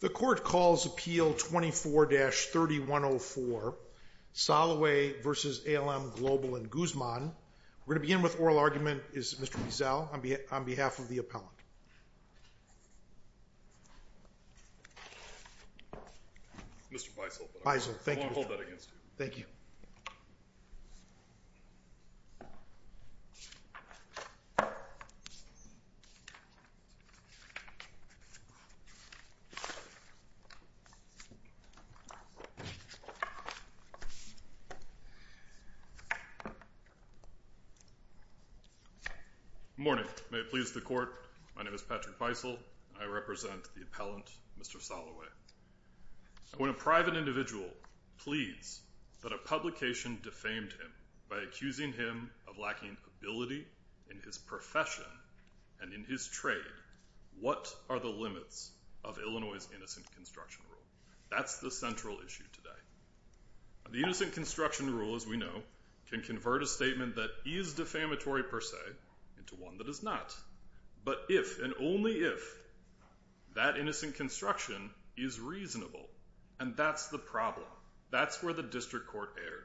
The Court calls Appeal 24-3104, Soloway v. ALM Global and Guzman. We're going to begin with oral argument. Is Mr. Beazell on behalf of the appellant? Mr. Beizell, hold that against you. Thank you. Good morning. May it please the Court, my name is Patrick Beizell and I represent the appellant, Mr. Soloway. When a private individual pleads that a publication defamed him by accusing him of lacking ability in his profession and in his trade, what are the limits of Illinois' Innocent Construction Rule? That's the central issue today. The Innocent Construction Rule, as we know, can convert a statement that is defamatory per se into one that is not. But if and only if that innocent construction is reasonable, and that's the problem, that's where the District Court erred.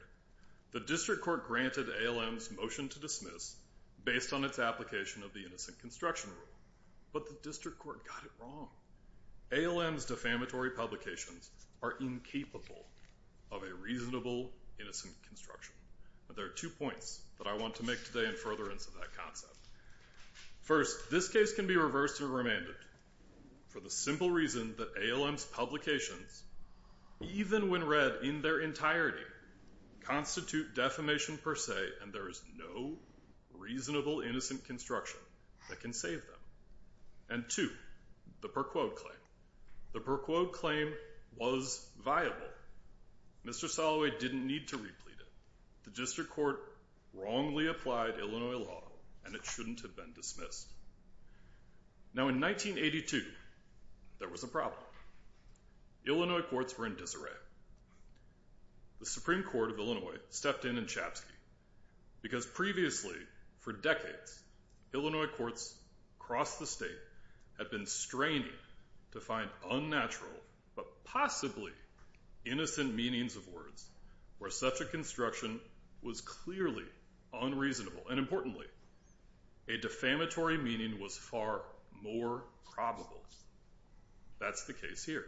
The District Court granted ALM's motion to dismiss based on its application of the Innocent Construction Rule, but the District Court got it wrong. ALM's defamatory publications are incapable of a reasonable innocent construction. There are two points that I want to make today in furtherance of that concept. First, this case can be reversed and remanded for the simple reason that ALM's publications, even when read in their entirety, constitute defamation per se and there is no reasonable innocent construction that can save them. And two, the per quote claim. The per quote claim was viable. Mr. Soloway didn't need to replete it. The District Court wrongly applied Illinois law and it shouldn't have been dismissed. Now in 1982, there was a problem. Illinois courts were in disarray. The Supreme Court of Illinois stepped in in Chapsky because previously, for decades, Illinois courts across the state had been straining to find unnatural, but possibly innocent meanings of words where such a construction was clearly unreasonable and importantly, a defamatory meaning was far more probable. That's the case here.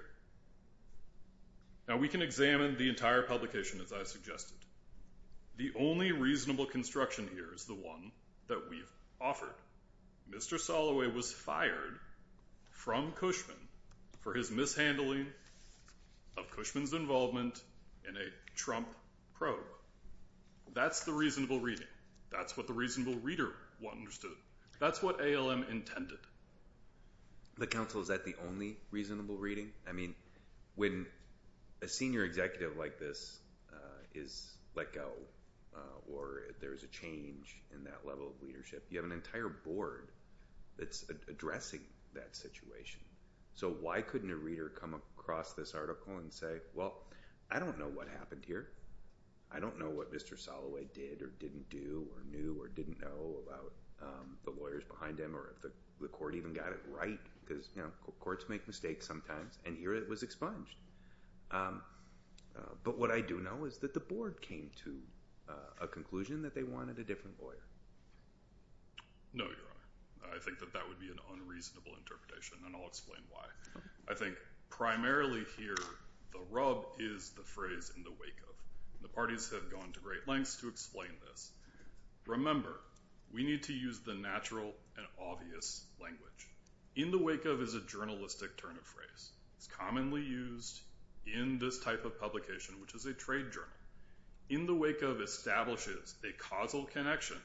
Now we can examine the entire publication as I suggested. The only reasonable construction here is the one that we've offered. Mr. Soloway was fired from Cushman for his mishandling of Cushman's involvement in a Trump probe. That's the reasonable reading. That's what the reasonable reader understood. That's what ALM intended. The counsel, is that the only reasonable reading? I mean, when a senior executive like this is let go or there's a change in that level of leadership, you have an entire board that's addressing that situation. So why couldn't a reader come across this article and say, well, I don't know what happened here. I don't know what Mr. Soloway did or didn't do or knew or didn't know about the lawyers behind him or if the court even got it right because courts make mistakes sometimes and here it was expunged. But what I do know is that the board came to a conclusion that they wanted a different lawyer. No, Your Honor. I think that that would be an unreasonable interpretation and I'll explain why. I think primarily here, the rub is the phrase in the wake of. The parties have gone to great lengths to explain this. Remember, we need to use the natural and obvious language. In the wake of is a journalistic turn of phrase. It's commonly used in this type of publication, which is a trade journal. In the wake of establishes a causal connection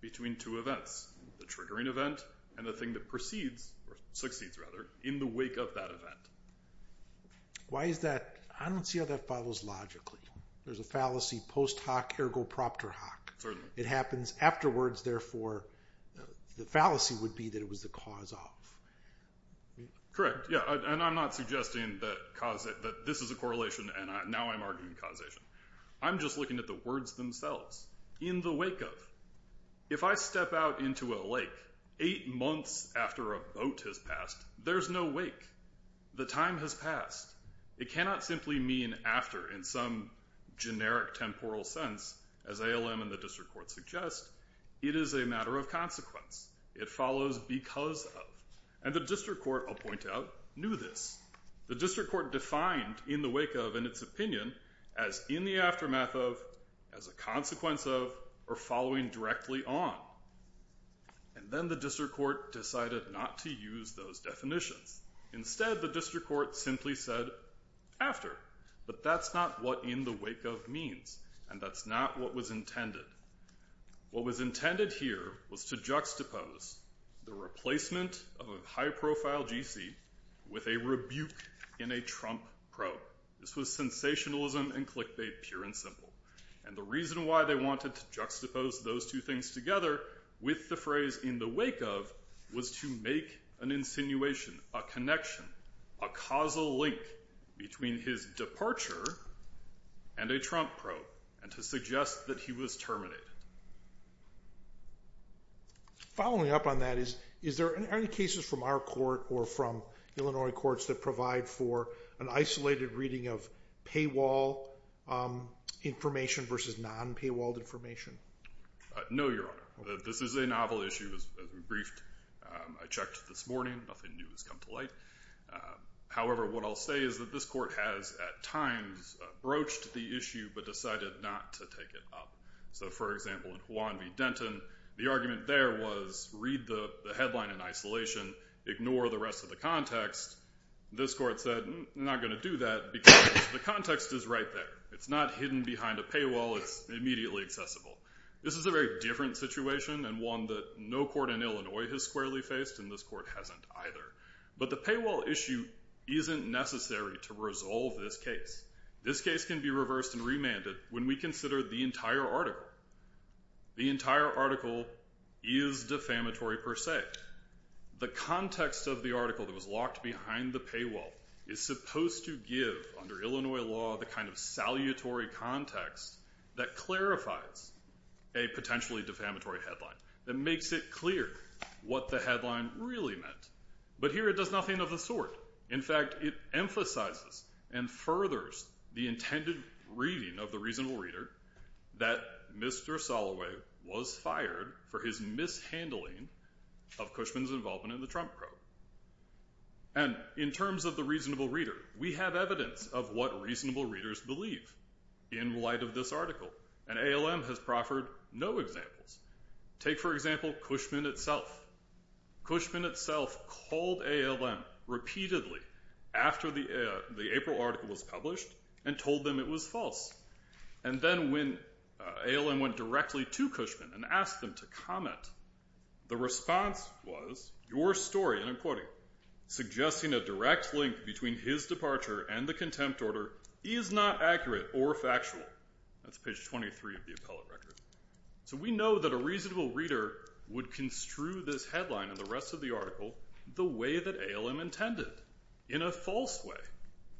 between two events, the triggering event and the thing that proceeds or succeeds rather in the wake of that event. Why is that? I don't see how that follows logically. There's a fallacy post hoc ergo proctor hoc. It happens afterwards. Therefore, the fallacy would be that it was the cause of. Correct. I'm not suggesting that this is a correlation and now I'm arguing causation. I'm just looking at the words themselves. In the wake of. If I step out into a lake eight months after a boat has passed, there's no wake. The time has passed. It cannot simply mean after in some generic temporal sense, as ALM and the district court suggest. It is a matter of consequence. It follows because of. And the district court, I'll point out, knew this. The district court defined in the wake of in its opinion as in the aftermath of, as a consequence of, or following directly on. And then the district court decided not to use those definitions. Instead, the district court simply said after. But that's not what in the wake of means. And that's not what was intended. What was intended here was to juxtapose the replacement of a high profile GC with a rebuke in a Trump probe. This was sensationalism and click bait, pure and simple. And the reason why they wanted to juxtapose those two things together with the phrase in the wake of was to make an insinuation, a connection, a causal link between his departure and a Trump probe and to suggest that he was terminated. Following up on that is, is there any cases from our court or from Illinois courts that provide for an isolated reading of paywall information versus non paywalled information? No, Your Honor. This is a novel issue as we briefed. I checked this morning. Nothing new has come to light. However, what I'll say is that this court has at times broached the issue but decided not to take it up. So for example, in Juan v. Denton, the argument there was read the headline in isolation, ignore the rest of the context. This court said, I'm not going to do that because the context is right there. It's not hidden behind a paywall. It's immediately accessible. This is a very different situation and one that no court in Illinois has squarely faced and this court hasn't either. But the paywall issue isn't necessary to resolve this case. This case can be reversed and remanded when we consider the entire article. The entire article is defamatory per se. The context of the article that was locked behind the paywall is supposed to give, under Illinois law, the kind of salutary context that clarifies a potentially defamatory headline, that makes it clear what the headline really meant. But here it does nothing of the sort. In fact, it emphasizes and furthers the intended reading of the reasonable reader that Mr. Soloway was fired for his mishandling of Cushman's involvement in the Trump probe. And in terms of the reasonable reader, we have evidence of what reasonable readers believe in light of this article. And ALM has proffered no examples. Take for example Cushman itself. Cushman itself called ALM repeatedly after the April article was published and told them it was false. And then when ALM went directly to Cushman and asked them to comment, the response was, your story, and I'm quoting, suggesting a direct link between his departure and the contempt order is not accurate or factual. That's page 23 of the appellate record. So we know that a reasonable reader would construe this headline and the rest of the article the way that ALM intended. In a false way.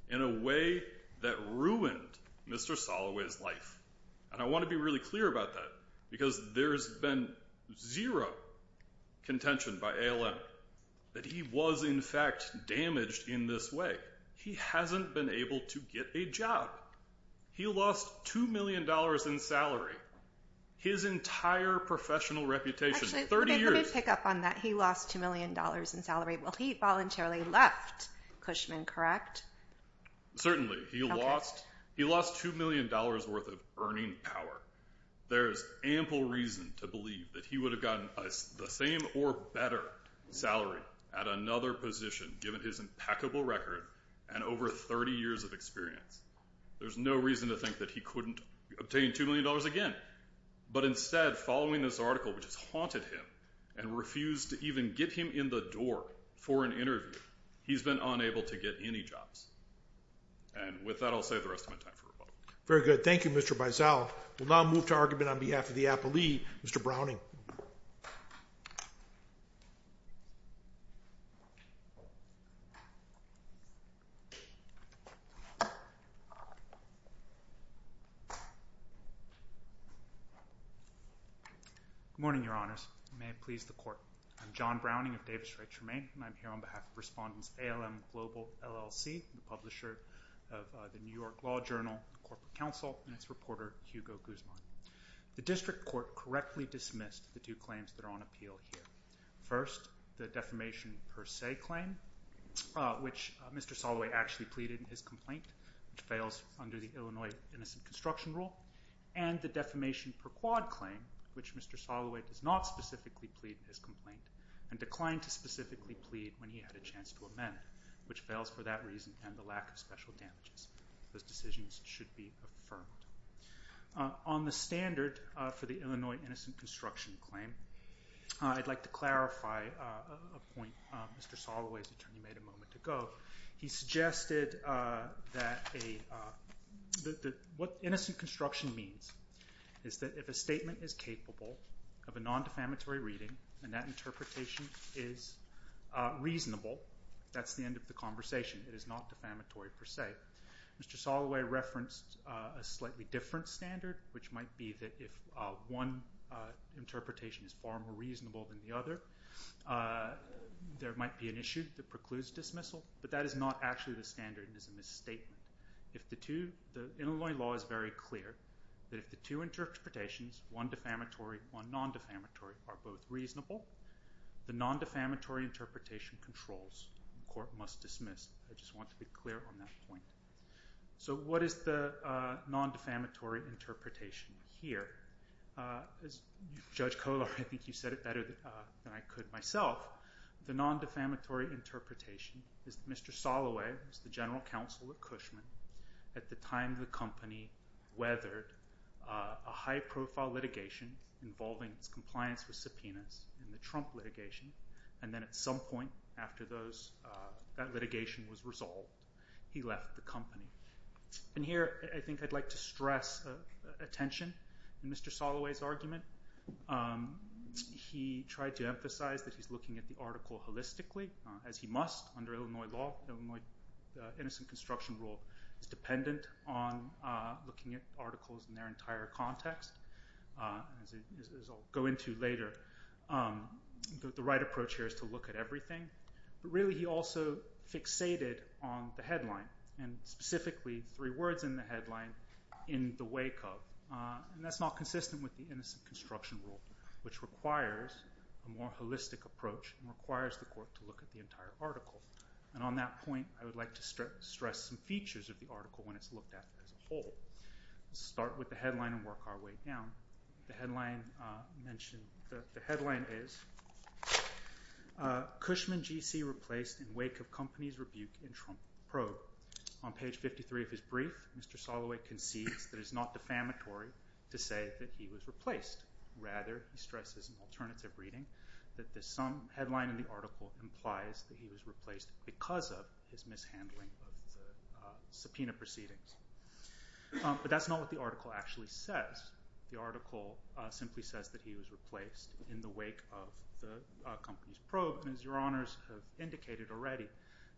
In a way that ruined Mr. Soloway's life. And I want to be really clear about that. Because there's been zero contention by ALM that he was in fact damaged in this way. He hasn't been able to get a job. He lost $2 million in salary. His entire professional reputation. 30 years. Actually, let me pick up on that. He lost $2 million in salary. Well, he voluntarily left Cushman, correct? Certainly. He lost $2 million worth of earning power. There's ample reason to believe that he would have gotten the same or better salary at another position given his impeccable record and over 30 years of experience. There's no reason to think that he couldn't obtain $2 million again. But instead, following this article which has haunted him and refused to even get him in the door for an interview, he's been unable to get any jobs. And with that, I'll save the rest of my time for rebuttal. Very good. Thank you, Mr. Baisal. We'll now move to argument on behalf of the appellee, Mr. Browning. Good morning, Your Honors. May it please the Court. I'm John Browning of Davis Rights Remain, and I'm here on behalf of Respondents ALM Global LLC, the publisher of the New York Law Journal, the Corporate Council, and its reporter, Hugo Guzman. The District Court correctly dismissed the two claims that are on appeal here. First, the defamation per se claim, which Mr. Soloway actually pleaded in his complaint, which fails under the Illinois Innocent Construction Rule, and the defamation per quad claim, which Mr. Soloway does not specifically plead in his complaint and declined to specifically plead when he had a chance to amend, which fails for that reason and the lack of special damages. Those decisions should be affirmed. On the standard for the Illinois Innocent Construction claim, I'd like to clarify a point Mr. Soloway's attorney made a moment ago. He suggested that what innocent construction means is that if a statement is capable of a non-defamatory reading and that interpretation is reasonable, that's the end of the conversation. It is not defamatory per se. Mr. Soloway referenced a slightly different standard, which might be that if one interpretation is far more reasonable than the other, there might be an issue that precludes dismissal, but that is not actually the standard and is a misstatement. The Illinois law is very clear that if the two interpretations, one defamatory, one non-defamatory, are both reasonable, the non-defamatory interpretation controls and court must dismiss. I just want to be clear on that point. So what is the non-defamatory interpretation here? Judge Kohler, I think you said it better than I could myself. The non-defamatory interpretation is that Mr. Soloway was the general counsel of Cushman at the time the company weathered a high-profile litigation involving its compliance with subpoenas in the Trump litigation and then at some point after that litigation was resolved, he left the company. And here I think I'd like to stress attention to Mr. Soloway's argument. He tried to emphasize that he's looking at the article holistically, as he must under Illinois law, the Innocent Construction Rule is dependent on looking at articles in their entire context. As I'll go into later, the right approach here is to look at everything. But really he also fixated on the headline and specifically three words in the headline, in the wake of, and that's not consistent with the Innocent Construction Rule, which requires a more holistic approach and requires the court to look at the entire article. And on that point, I would like to stress some features of the article when it's looked at as a whole. Let's start with the headline and work our way down. The headline is, Cushman G.C. Replaced in Wake of Company's Rebuke in Trump Probe. On page 53 of his brief, Mr. Soloway concedes that it's not defamatory to say that he was replaced. Rather, he stresses in alternative reading that the headline in the article implies that he was replaced because of his mishandling of the subpoena proceedings. But that's not what the article actually says. The article simply says that he was replaced in the wake of the company's probe. And as your honors have indicated already,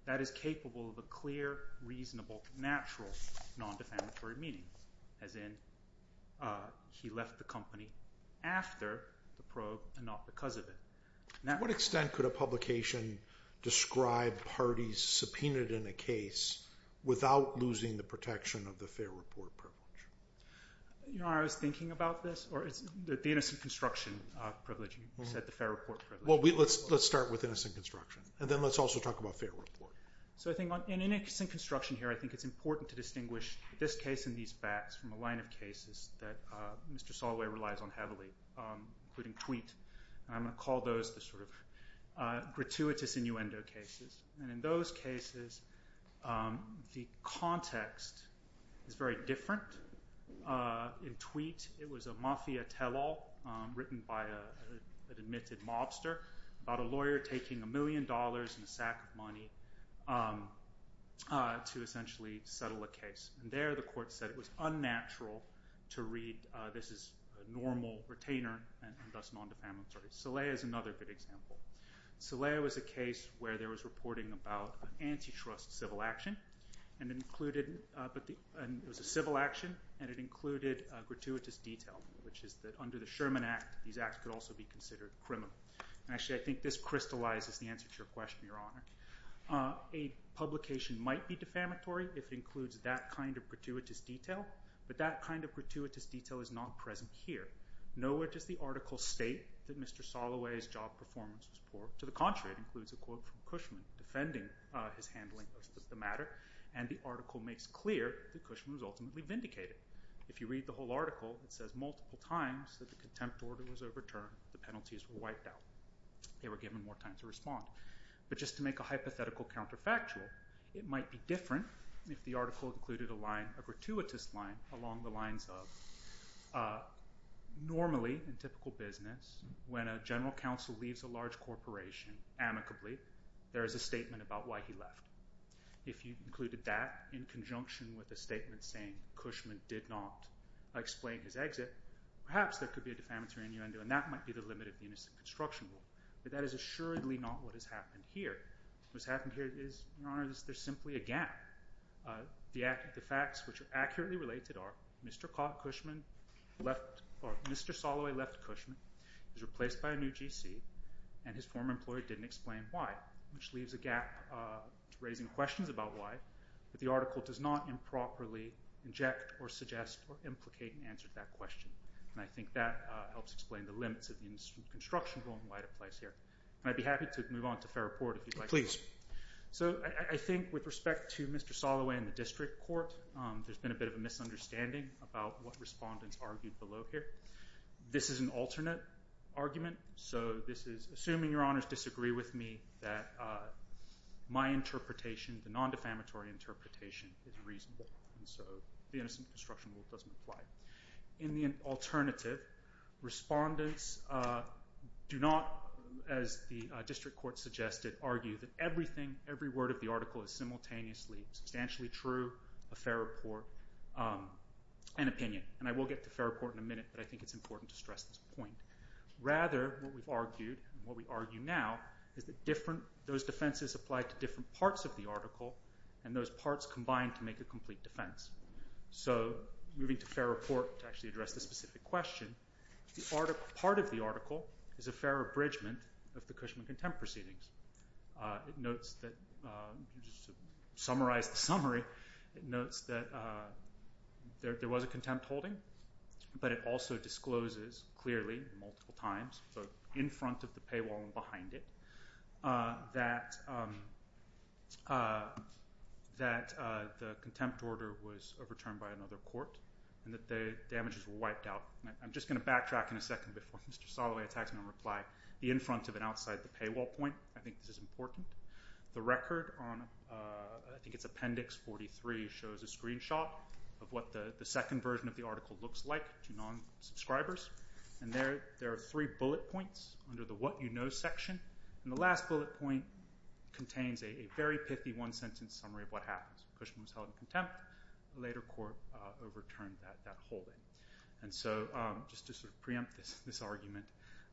that is capable of a clear, reasonable, natural, non-defamatory meaning, as in he left the company after the probe and not because of it. To what extent could a publication describe parties subpoenaed in a case without losing the protection of the fair report privilege? You know, I was thinking about this, or the innocent construction privilege. You said the fair report privilege. Well, let's start with innocent construction, and then let's also talk about fair report. So I think in innocent construction here, I think it's important to distinguish this case and these facts from a line of cases that Mr. Soloway relies on heavily, including Tweet. I'm going to call those the sort of gratuitous innuendo cases. And in those cases, the context is very different. In Tweet, it was a mafia tell-all written by an admitted mobster about a lawyer taking a million dollars and a sack of money to essentially settle a case. And there the court said it was unnatural to read, this is a normal retainer and thus non-defamatory. Soleil is another good example. Soleil was a case where there was reporting about an antitrust civil action, and it was a civil action, and it included gratuitous detail, which is that under the Sherman Act, these acts could also be considered criminal. Actually, I think this crystallizes the answer to your question, Your Honor. A publication might be defamatory if it includes that kind of gratuitous detail, but that kind of gratuitous detail is not present here. Nowhere does the article state that Mr. Soloway's job performance was poor. To the contrary, it includes a quote from Cushman defending his handling of the matter, and the article makes clear that Cushman was ultimately vindicated. If you read the whole article, it says multiple times that the contempt order was overturned, the penalties were wiped out, they were given more time to respond. But just to make a hypothetical counterfactual, it might be different if the article included a gratuitous line along the lines of, normally in typical business, when a general counsel leaves a large corporation amicably, there is a statement about why he left. If you included that in conjunction with a statement saying Cushman did not explain his exit, perhaps there could be a defamatory innuendo, and that might be the limit of the innocent construction rule. But that is assuredly not what has happened here. What's happened here is, Your Honor, there's simply a gap. The facts which are accurately related are Mr. Soloway left Cushman, was replaced by a new GC, and his former employee didn't explain why, which leaves a gap to raising questions about why, but the article does not improperly inject or suggest or implicate an answer to that question, and I think that helps explain the limits of the innocent construction rule and why it applies here. I'd be happy to move on to fair report if you'd like. Please. So I think with respect to Mr. Soloway and the district court, there's been a bit of a misunderstanding about what respondents argued below here. This is an alternate argument, so this is assuming Your Honors disagree with me, that my interpretation, the non-defamatory interpretation, is reasonable, and so the innocent construction rule doesn't apply. In the alternative, respondents do not, as the district court suggested, argue that everything, every word of the article is simultaneously substantially true, a fair report, and opinion. And I will get to fair report in a minute, but I think it's important to stress this point. Rather, what we've argued and what we argue now is that those defenses apply to different parts of the article and those parts combine to make a complete defense. So moving to fair report to actually address this specific question, part of the article is a fair abridgment of the Cushman contempt proceedings. It notes that, just to summarize the summary, it notes that there was a contempt holding, but it also discloses clearly multiple times, both in front of the paywall and behind it, that the contempt order was overturned by another court and that the damages were wiped out. I'm just going to backtrack in a second before Mr. Soloway attacks me in reply. The in front of and outside the paywall point, I think this is important. The record on, I think it's appendix 43, shows a screenshot of what the second version of the article looks like to non-subscribers. And there are three bullet points under the what you know section. And the last bullet point contains a very pithy one-sentence summary of what happens. Cushman was held in contempt. A later court overturned that holding. And so just to sort of preempt this argument,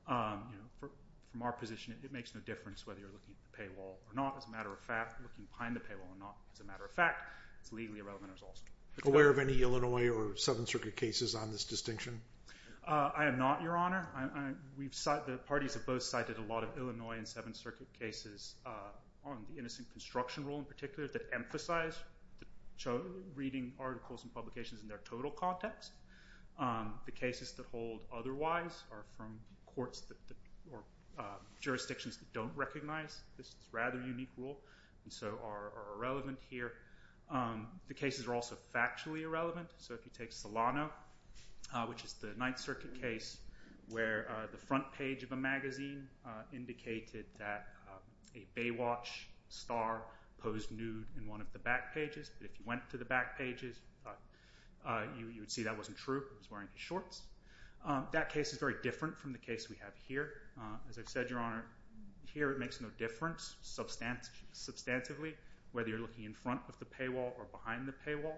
from our position, it makes no difference whether you're looking at the paywall or not. As a matter of fact, looking behind the paywall or not, as a matter of fact, it's legally irrelevant. Aware of any Illinois or Seventh Circuit cases on this distinction? I am not, Your Honor. The parties have both cited a lot of Illinois and Seventh Circuit cases on the innocent construction rule in particular that emphasize reading articles and publications in their total context. The cases that hold otherwise are from courts or jurisdictions that don't recognize this rather unique rule and so are irrelevant here. The cases are also factually irrelevant. So if you take Solano, which is the Ninth Circuit case where the front page of a magazine indicated that a Baywatch star posed nude in one of the back pages. But if you went to the back pages, you would see that wasn't true. He was wearing his shorts. That case is very different from the case we have here. As I've said, Your Honor, here it makes no difference substantively whether you're looking in front of the paywall or behind the paywall.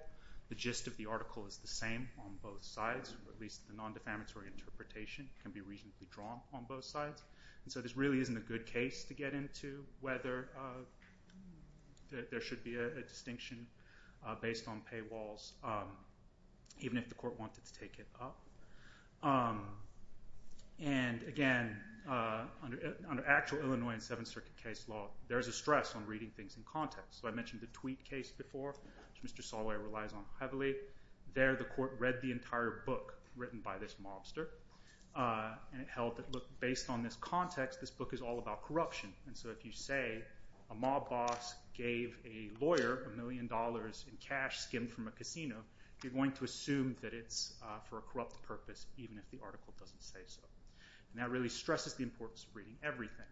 The gist of the article is the same on both sides. At least the non-defamatory interpretation can be reasonably drawn on both sides. So this really isn't a good case to get into whether there should be a distinction based on paywalls, even if the court wanted to take it up. And again, under actual Illinois and Seventh Circuit case law, there's a stress on reading things in context. So I mentioned the Tweet case before, which Mr. Solano relies on heavily. There the court read the entire book written by this mobster, and it held that based on this context, this book is all about corruption. And so if you say a mob boss gave a lawyer a million dollars in cash skimmed from a casino, you're going to assume that it's for a corrupt purpose, even if the article doesn't say so. And that really stresses the importance of reading everything.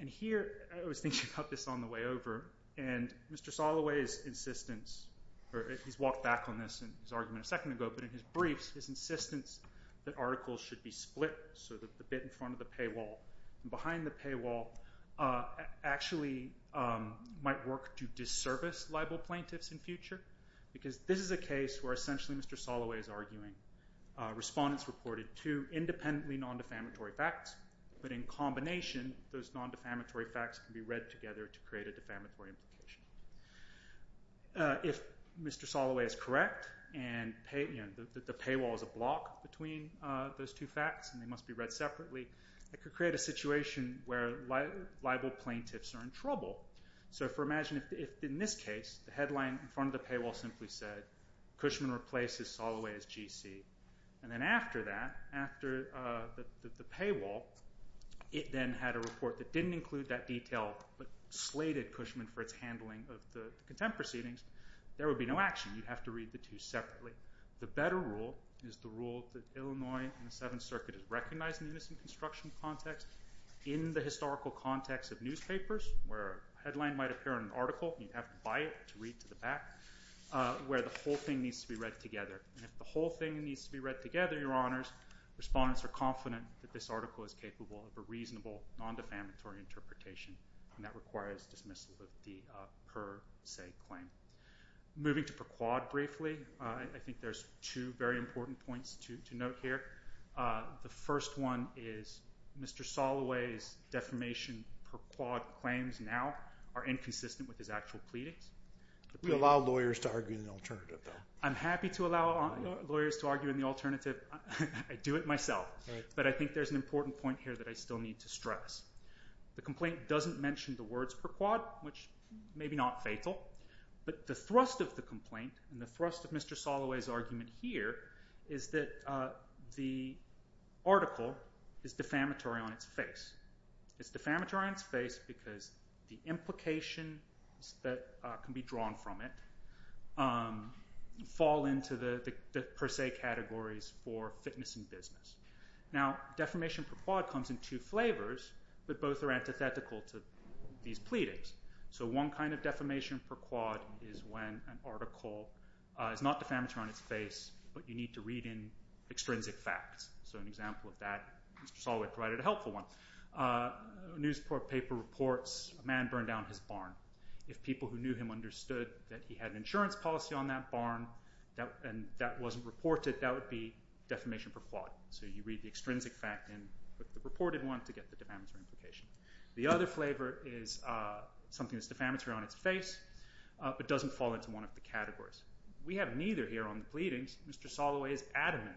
And here – I was thinking about this on the way over – and Mr. Solano's insistence, or he's walked back on this in his argument a second ago, but in his briefs his insistence that articles should be split so that the bit in front of the paywall and behind the paywall actually might work to disservice libel plaintiffs in future. Because this is a case where essentially Mr. Solano is arguing respondents reported two independently non-defamatory facts, but in combination those non-defamatory facts can be read together to create a defamatory implication. If Mr. Solano is correct and the paywall is a block between those two facts and they must be read separately, it could create a situation where libel plaintiffs are in trouble. So imagine if in this case the headline in front of the paywall simply said, Cushman replaces Soloway as GC. And then after that, after the paywall, it then had a report that didn't include that detail, but slated Cushman for its handling of the contempt proceedings, there would be no action. You'd have to read the two separately. The better rule is the rule that Illinois and the Seventh Circuit has recognized in the innocent construction context, in the historical context of newspapers where a headline might appear in an article and you'd have to buy it to read to the back, where the whole thing needs to be read together. And if the whole thing needs to be read together, Your Honors, respondents are confident that this article is capable of a reasonable non-defamatory interpretation. And that requires dismissal of the per se claim. Moving to per quad briefly, I think there's two very important points to note here. The first one is Mr. Soloway's defamation per quad claims now are inconsistent with his actual pleadings. We allow lawyers to argue in the alternative though. I'm happy to allow lawyers to argue in the alternative. I do it myself. But I think there's an important point here that I still need to stress. The complaint doesn't mention the words per quad, which may be not fatal, but the thrust of the complaint and the thrust of Mr. Soloway's argument here is that the article is defamatory on its face. It's defamatory on its face because the implications that can be drawn from it fall into the per se categories for fitness and business. Now defamation per quad comes in two flavors, but both are antithetical to these pleadings. So one kind of defamation per quad is when an article is not defamatory on its face, but you need to read in extrinsic facts. So an example of that, Mr. Soloway provided a helpful one. A newspaper reports a man burned down his barn. If people who knew him understood that he had an insurance policy on that barn and that wasn't reported, that would be defamation per quad. So you read the extrinsic fact in the reported one to get the defamatory implication. The other flavor is something that's defamatory on its face, but doesn't fall into one of the categories. We have neither here on the pleadings. Mr. Soloway is adamant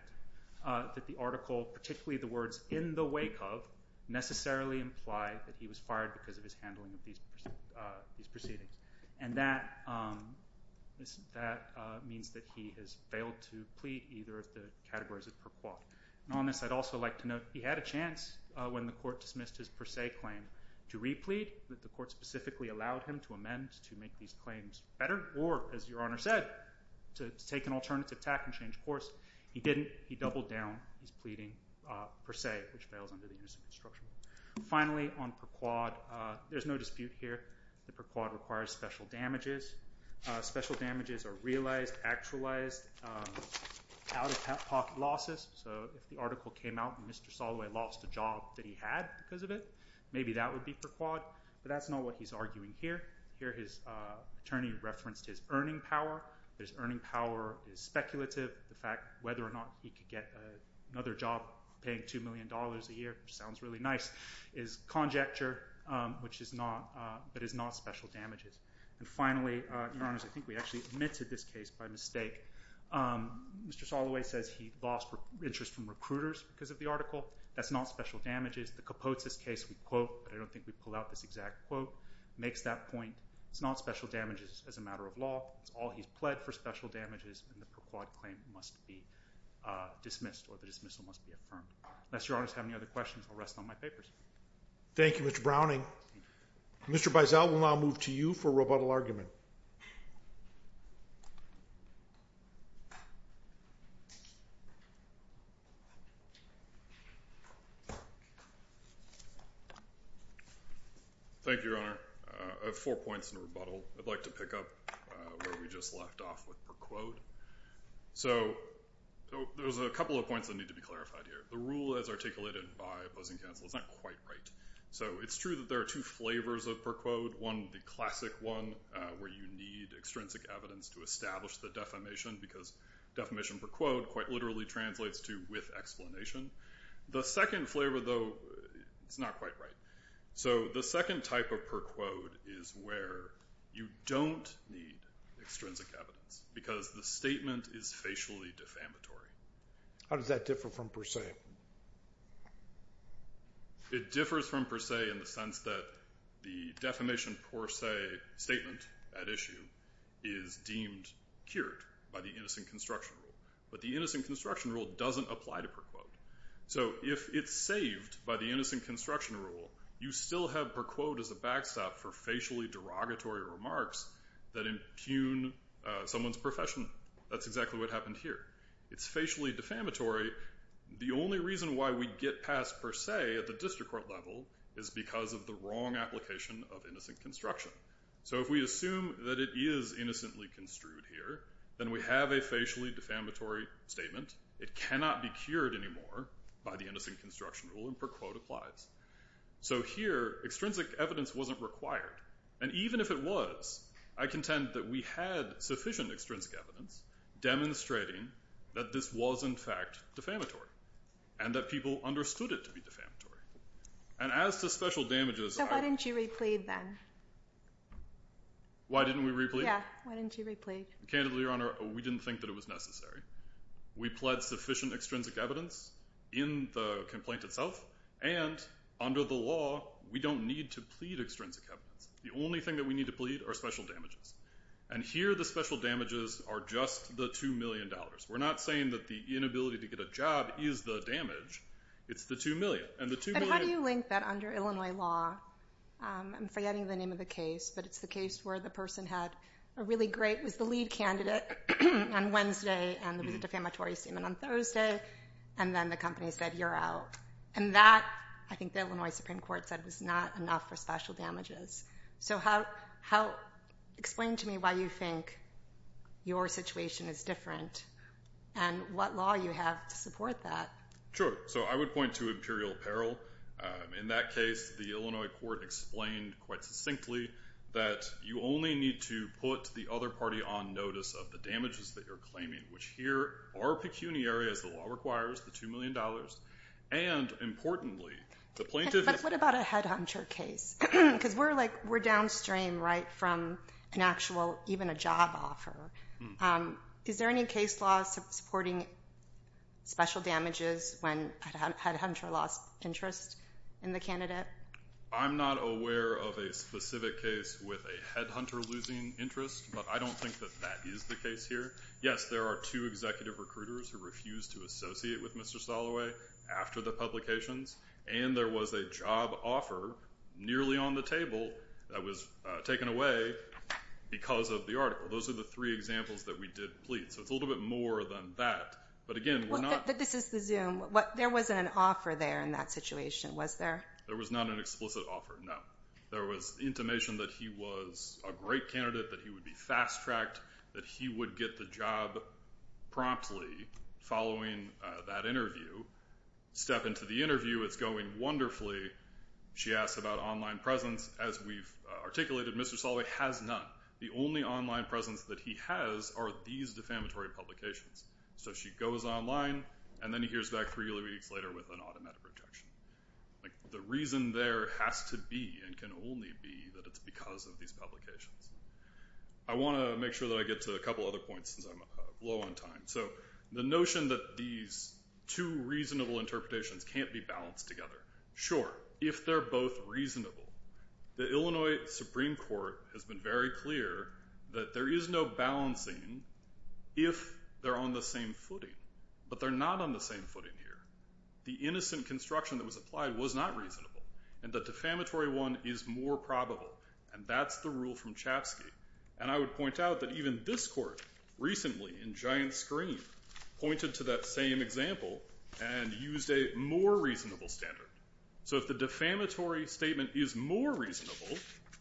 that the article, particularly the words in the wake of, necessarily imply that he was fired because of his handling of these proceedings. And that means that he has failed to plead either of the categories of per quad. And on this, I'd also like to note he had a chance when the court dismissed his per se claim to re-plead, but the court specifically allowed him to amend to make these claims better or, as Your Honor said, to take an alternative tack and change course. He didn't. He doubled down. He's pleading per se, which fails under the Unicef instruction. Finally, on per quad, there's no dispute here. The per quad requires special damages. Special damages are realized, actualized, out-of-pocket losses. So if the article came out and Mr. Soloway lost a job that he had because of it, maybe that would be per quad. But that's not what he's arguing here. Here his attorney referenced his earning power. His earning power is speculative. The fact whether or not he could get another job paying $2 million a year, which sounds really nice, is conjecture, but is not special damages. And finally, Your Honors, I think we actually omitted this case by mistake. Mr. Soloway says he lost interest from recruiters because of the article. That's not special damages. The Kapotesis case we quote, but I don't think we pull out this exact quote, makes that point. It's not special damages as a matter of law. It's all he's pled for special damages, and the per quad claim must be dismissed or the dismissal must be affirmed. Unless Your Honors have any other questions, I'll rest on my papers. Thank you, Mr. Browning. Mr. Beisel, we'll now move to you for rebuttal argument. Thank you, Your Honor. I have four points in rebuttal. I'd like to pick up where we just left off with per quad. So there's a couple of points that need to be clarified here. The rule as articulated by opposing counsel is not quite right. So it's true that there are two flavors of per quad. One, the classic one where you need extrinsic evidence to establish the defamation, because defamation per quad quite literally translates to with explanation. The second flavor, though, is not quite right. So the second type of per quad is where you don't need extrinsic evidence, because the statement is facially defamatory. How does that differ from per se? It differs from per se in the sense that the defamation per se statement at issue is deemed cured by the innocent construction rule. But the innocent construction rule doesn't apply to per quad. So if it's saved by the innocent construction rule, you still have per quad as a backstop for facially derogatory remarks that impugn someone's profession. That's exactly what happened here. It's facially defamatory. The only reason why we get past per se at the district court level is because of the wrong application of innocent construction. So if we assume that it is innocently construed here, then we have a facially defamatory statement. It cannot be cured anymore by the innocent construction rule, and per quad applies. So here, extrinsic evidence wasn't required. And even if it was, I contend that we had sufficient extrinsic evidence demonstrating that this was, in fact, defamatory, and that people understood it to be defamatory. And as to special damages... So why didn't you replead then? Why didn't we replead? Yeah, why didn't you replead? Candidly, Your Honor, we didn't think that it was necessary. We pled sufficient extrinsic evidence in the complaint itself, and under the law we don't need to plead extrinsic evidence. The only thing that we need to plead are special damages. And here the special damages are just the $2 million. We're not saying that the inability to get a job is the damage. It's the $2 million. And the $2 million... But how do you link that under Illinois law? I'm forgetting the name of the case, but it's the case where the person had a really great... It was the lead candidate on Wednesday, and there was a defamatory statement on Thursday, and then the company said, you're out. And that, I think the Illinois Supreme Court said, was not enough for special damages. So explain to me why you think your situation is different and what law you have to support that. So I would point to imperial peril. In that case, the Illinois court explained quite succinctly that you only need to put the other party on notice of the damages that you're claiming, which here are pecuniary, as the law requires, the $2 million. And importantly, the plaintiff... But what about a headhunter case? Because we're downstream right from an actual, even a job offer. Is there any case law supporting special damages when a headhunter lost interest in the candidate? I'm not aware of a specific case with a headhunter losing interest, but I don't think that that is the case here. Yes, there are two executive recruiters who refused to associate with Mr. Soloway after the publications, and there was a job offer nearly on the table that was taken away because of the article. Those are the three examples that we did plead. So it's a little bit more than that. But again, we're not... But this is the Zoom. There wasn't an offer there in that situation, was there? There was not an explicit offer, no. There was intimation that he was a great candidate, that he would be fast-tracked, that he would get the job promptly following that interview, step into the interview. It's going wonderfully. She asks about online presence. As we've articulated, Mr. Soloway has none. The only online presence that he has are these defamatory publications. So she goes online, and then he hears back three weeks later with an automatic rejection. The reason there has to be and can only be that it's because of these publications. I want to make sure that I get to a couple other points since I'm low on time. So the notion that these two reasonable interpretations can't be balanced together. Sure, if they're both reasonable. The Illinois Supreme Court has been very clear that there is no balancing if they're on the same footing. But they're not on the same footing here. The innocent construction that was applied was not reasonable, and the defamatory one is more probable. And that's the rule from Chapsky. And I would point out that even this court recently in giant screen pointed to that same example and used a more reasonable standard. So if the defamatory statement is more reasonable,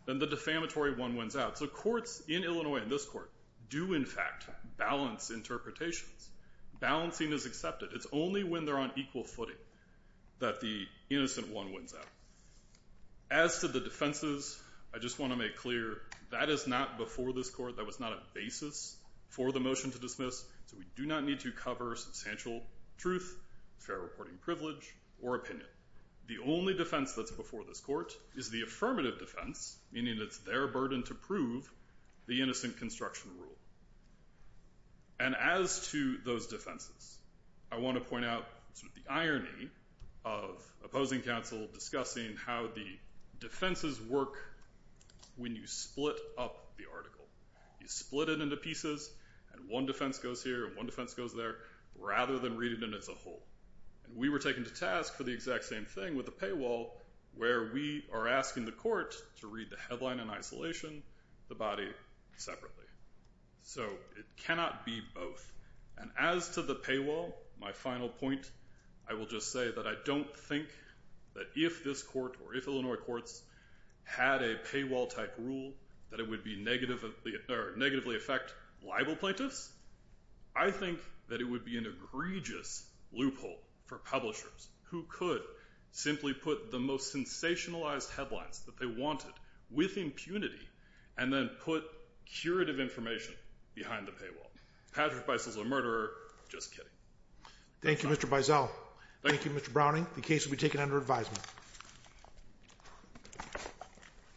then the defamatory one wins out. So courts in Illinois in this court do, in fact, balance interpretations. Balancing is accepted. It's only when they're on equal footing that the innocent one wins out. As to the defenses, I just want to make clear that is not before this court. That was not a basis for the motion to dismiss. So we do not need to cover substantial truth, fair reporting privilege, or opinion. The only defense that's before this court is the affirmative defense, meaning it's their burden to prove the innocent construction rule. And as to those defenses, I want to point out the irony of opposing counsel discussing how the defenses work when you split up the article. You split it into pieces, and one defense goes here, and one defense goes there, rather than reading it as a whole. And we were taken to task for the exact same thing with the paywall, where we are asking the court to read the headline in isolation, the body separately. So it cannot be both. And as to the paywall, my final point, I will just say that I don't think that if this court or if Illinois courts had a paywall-type rule that it would negatively affect libel plaintiffs. I think that it would be an egregious loophole for publishers who could simply put the most sensationalized headlines that they wanted with impunity and then put curative information behind the paywall. Patrick Beissel's a murderer. Just kidding. Thank you, Mr. Beissel. Thank you, Mr. Browning. The case will be taken under advisement.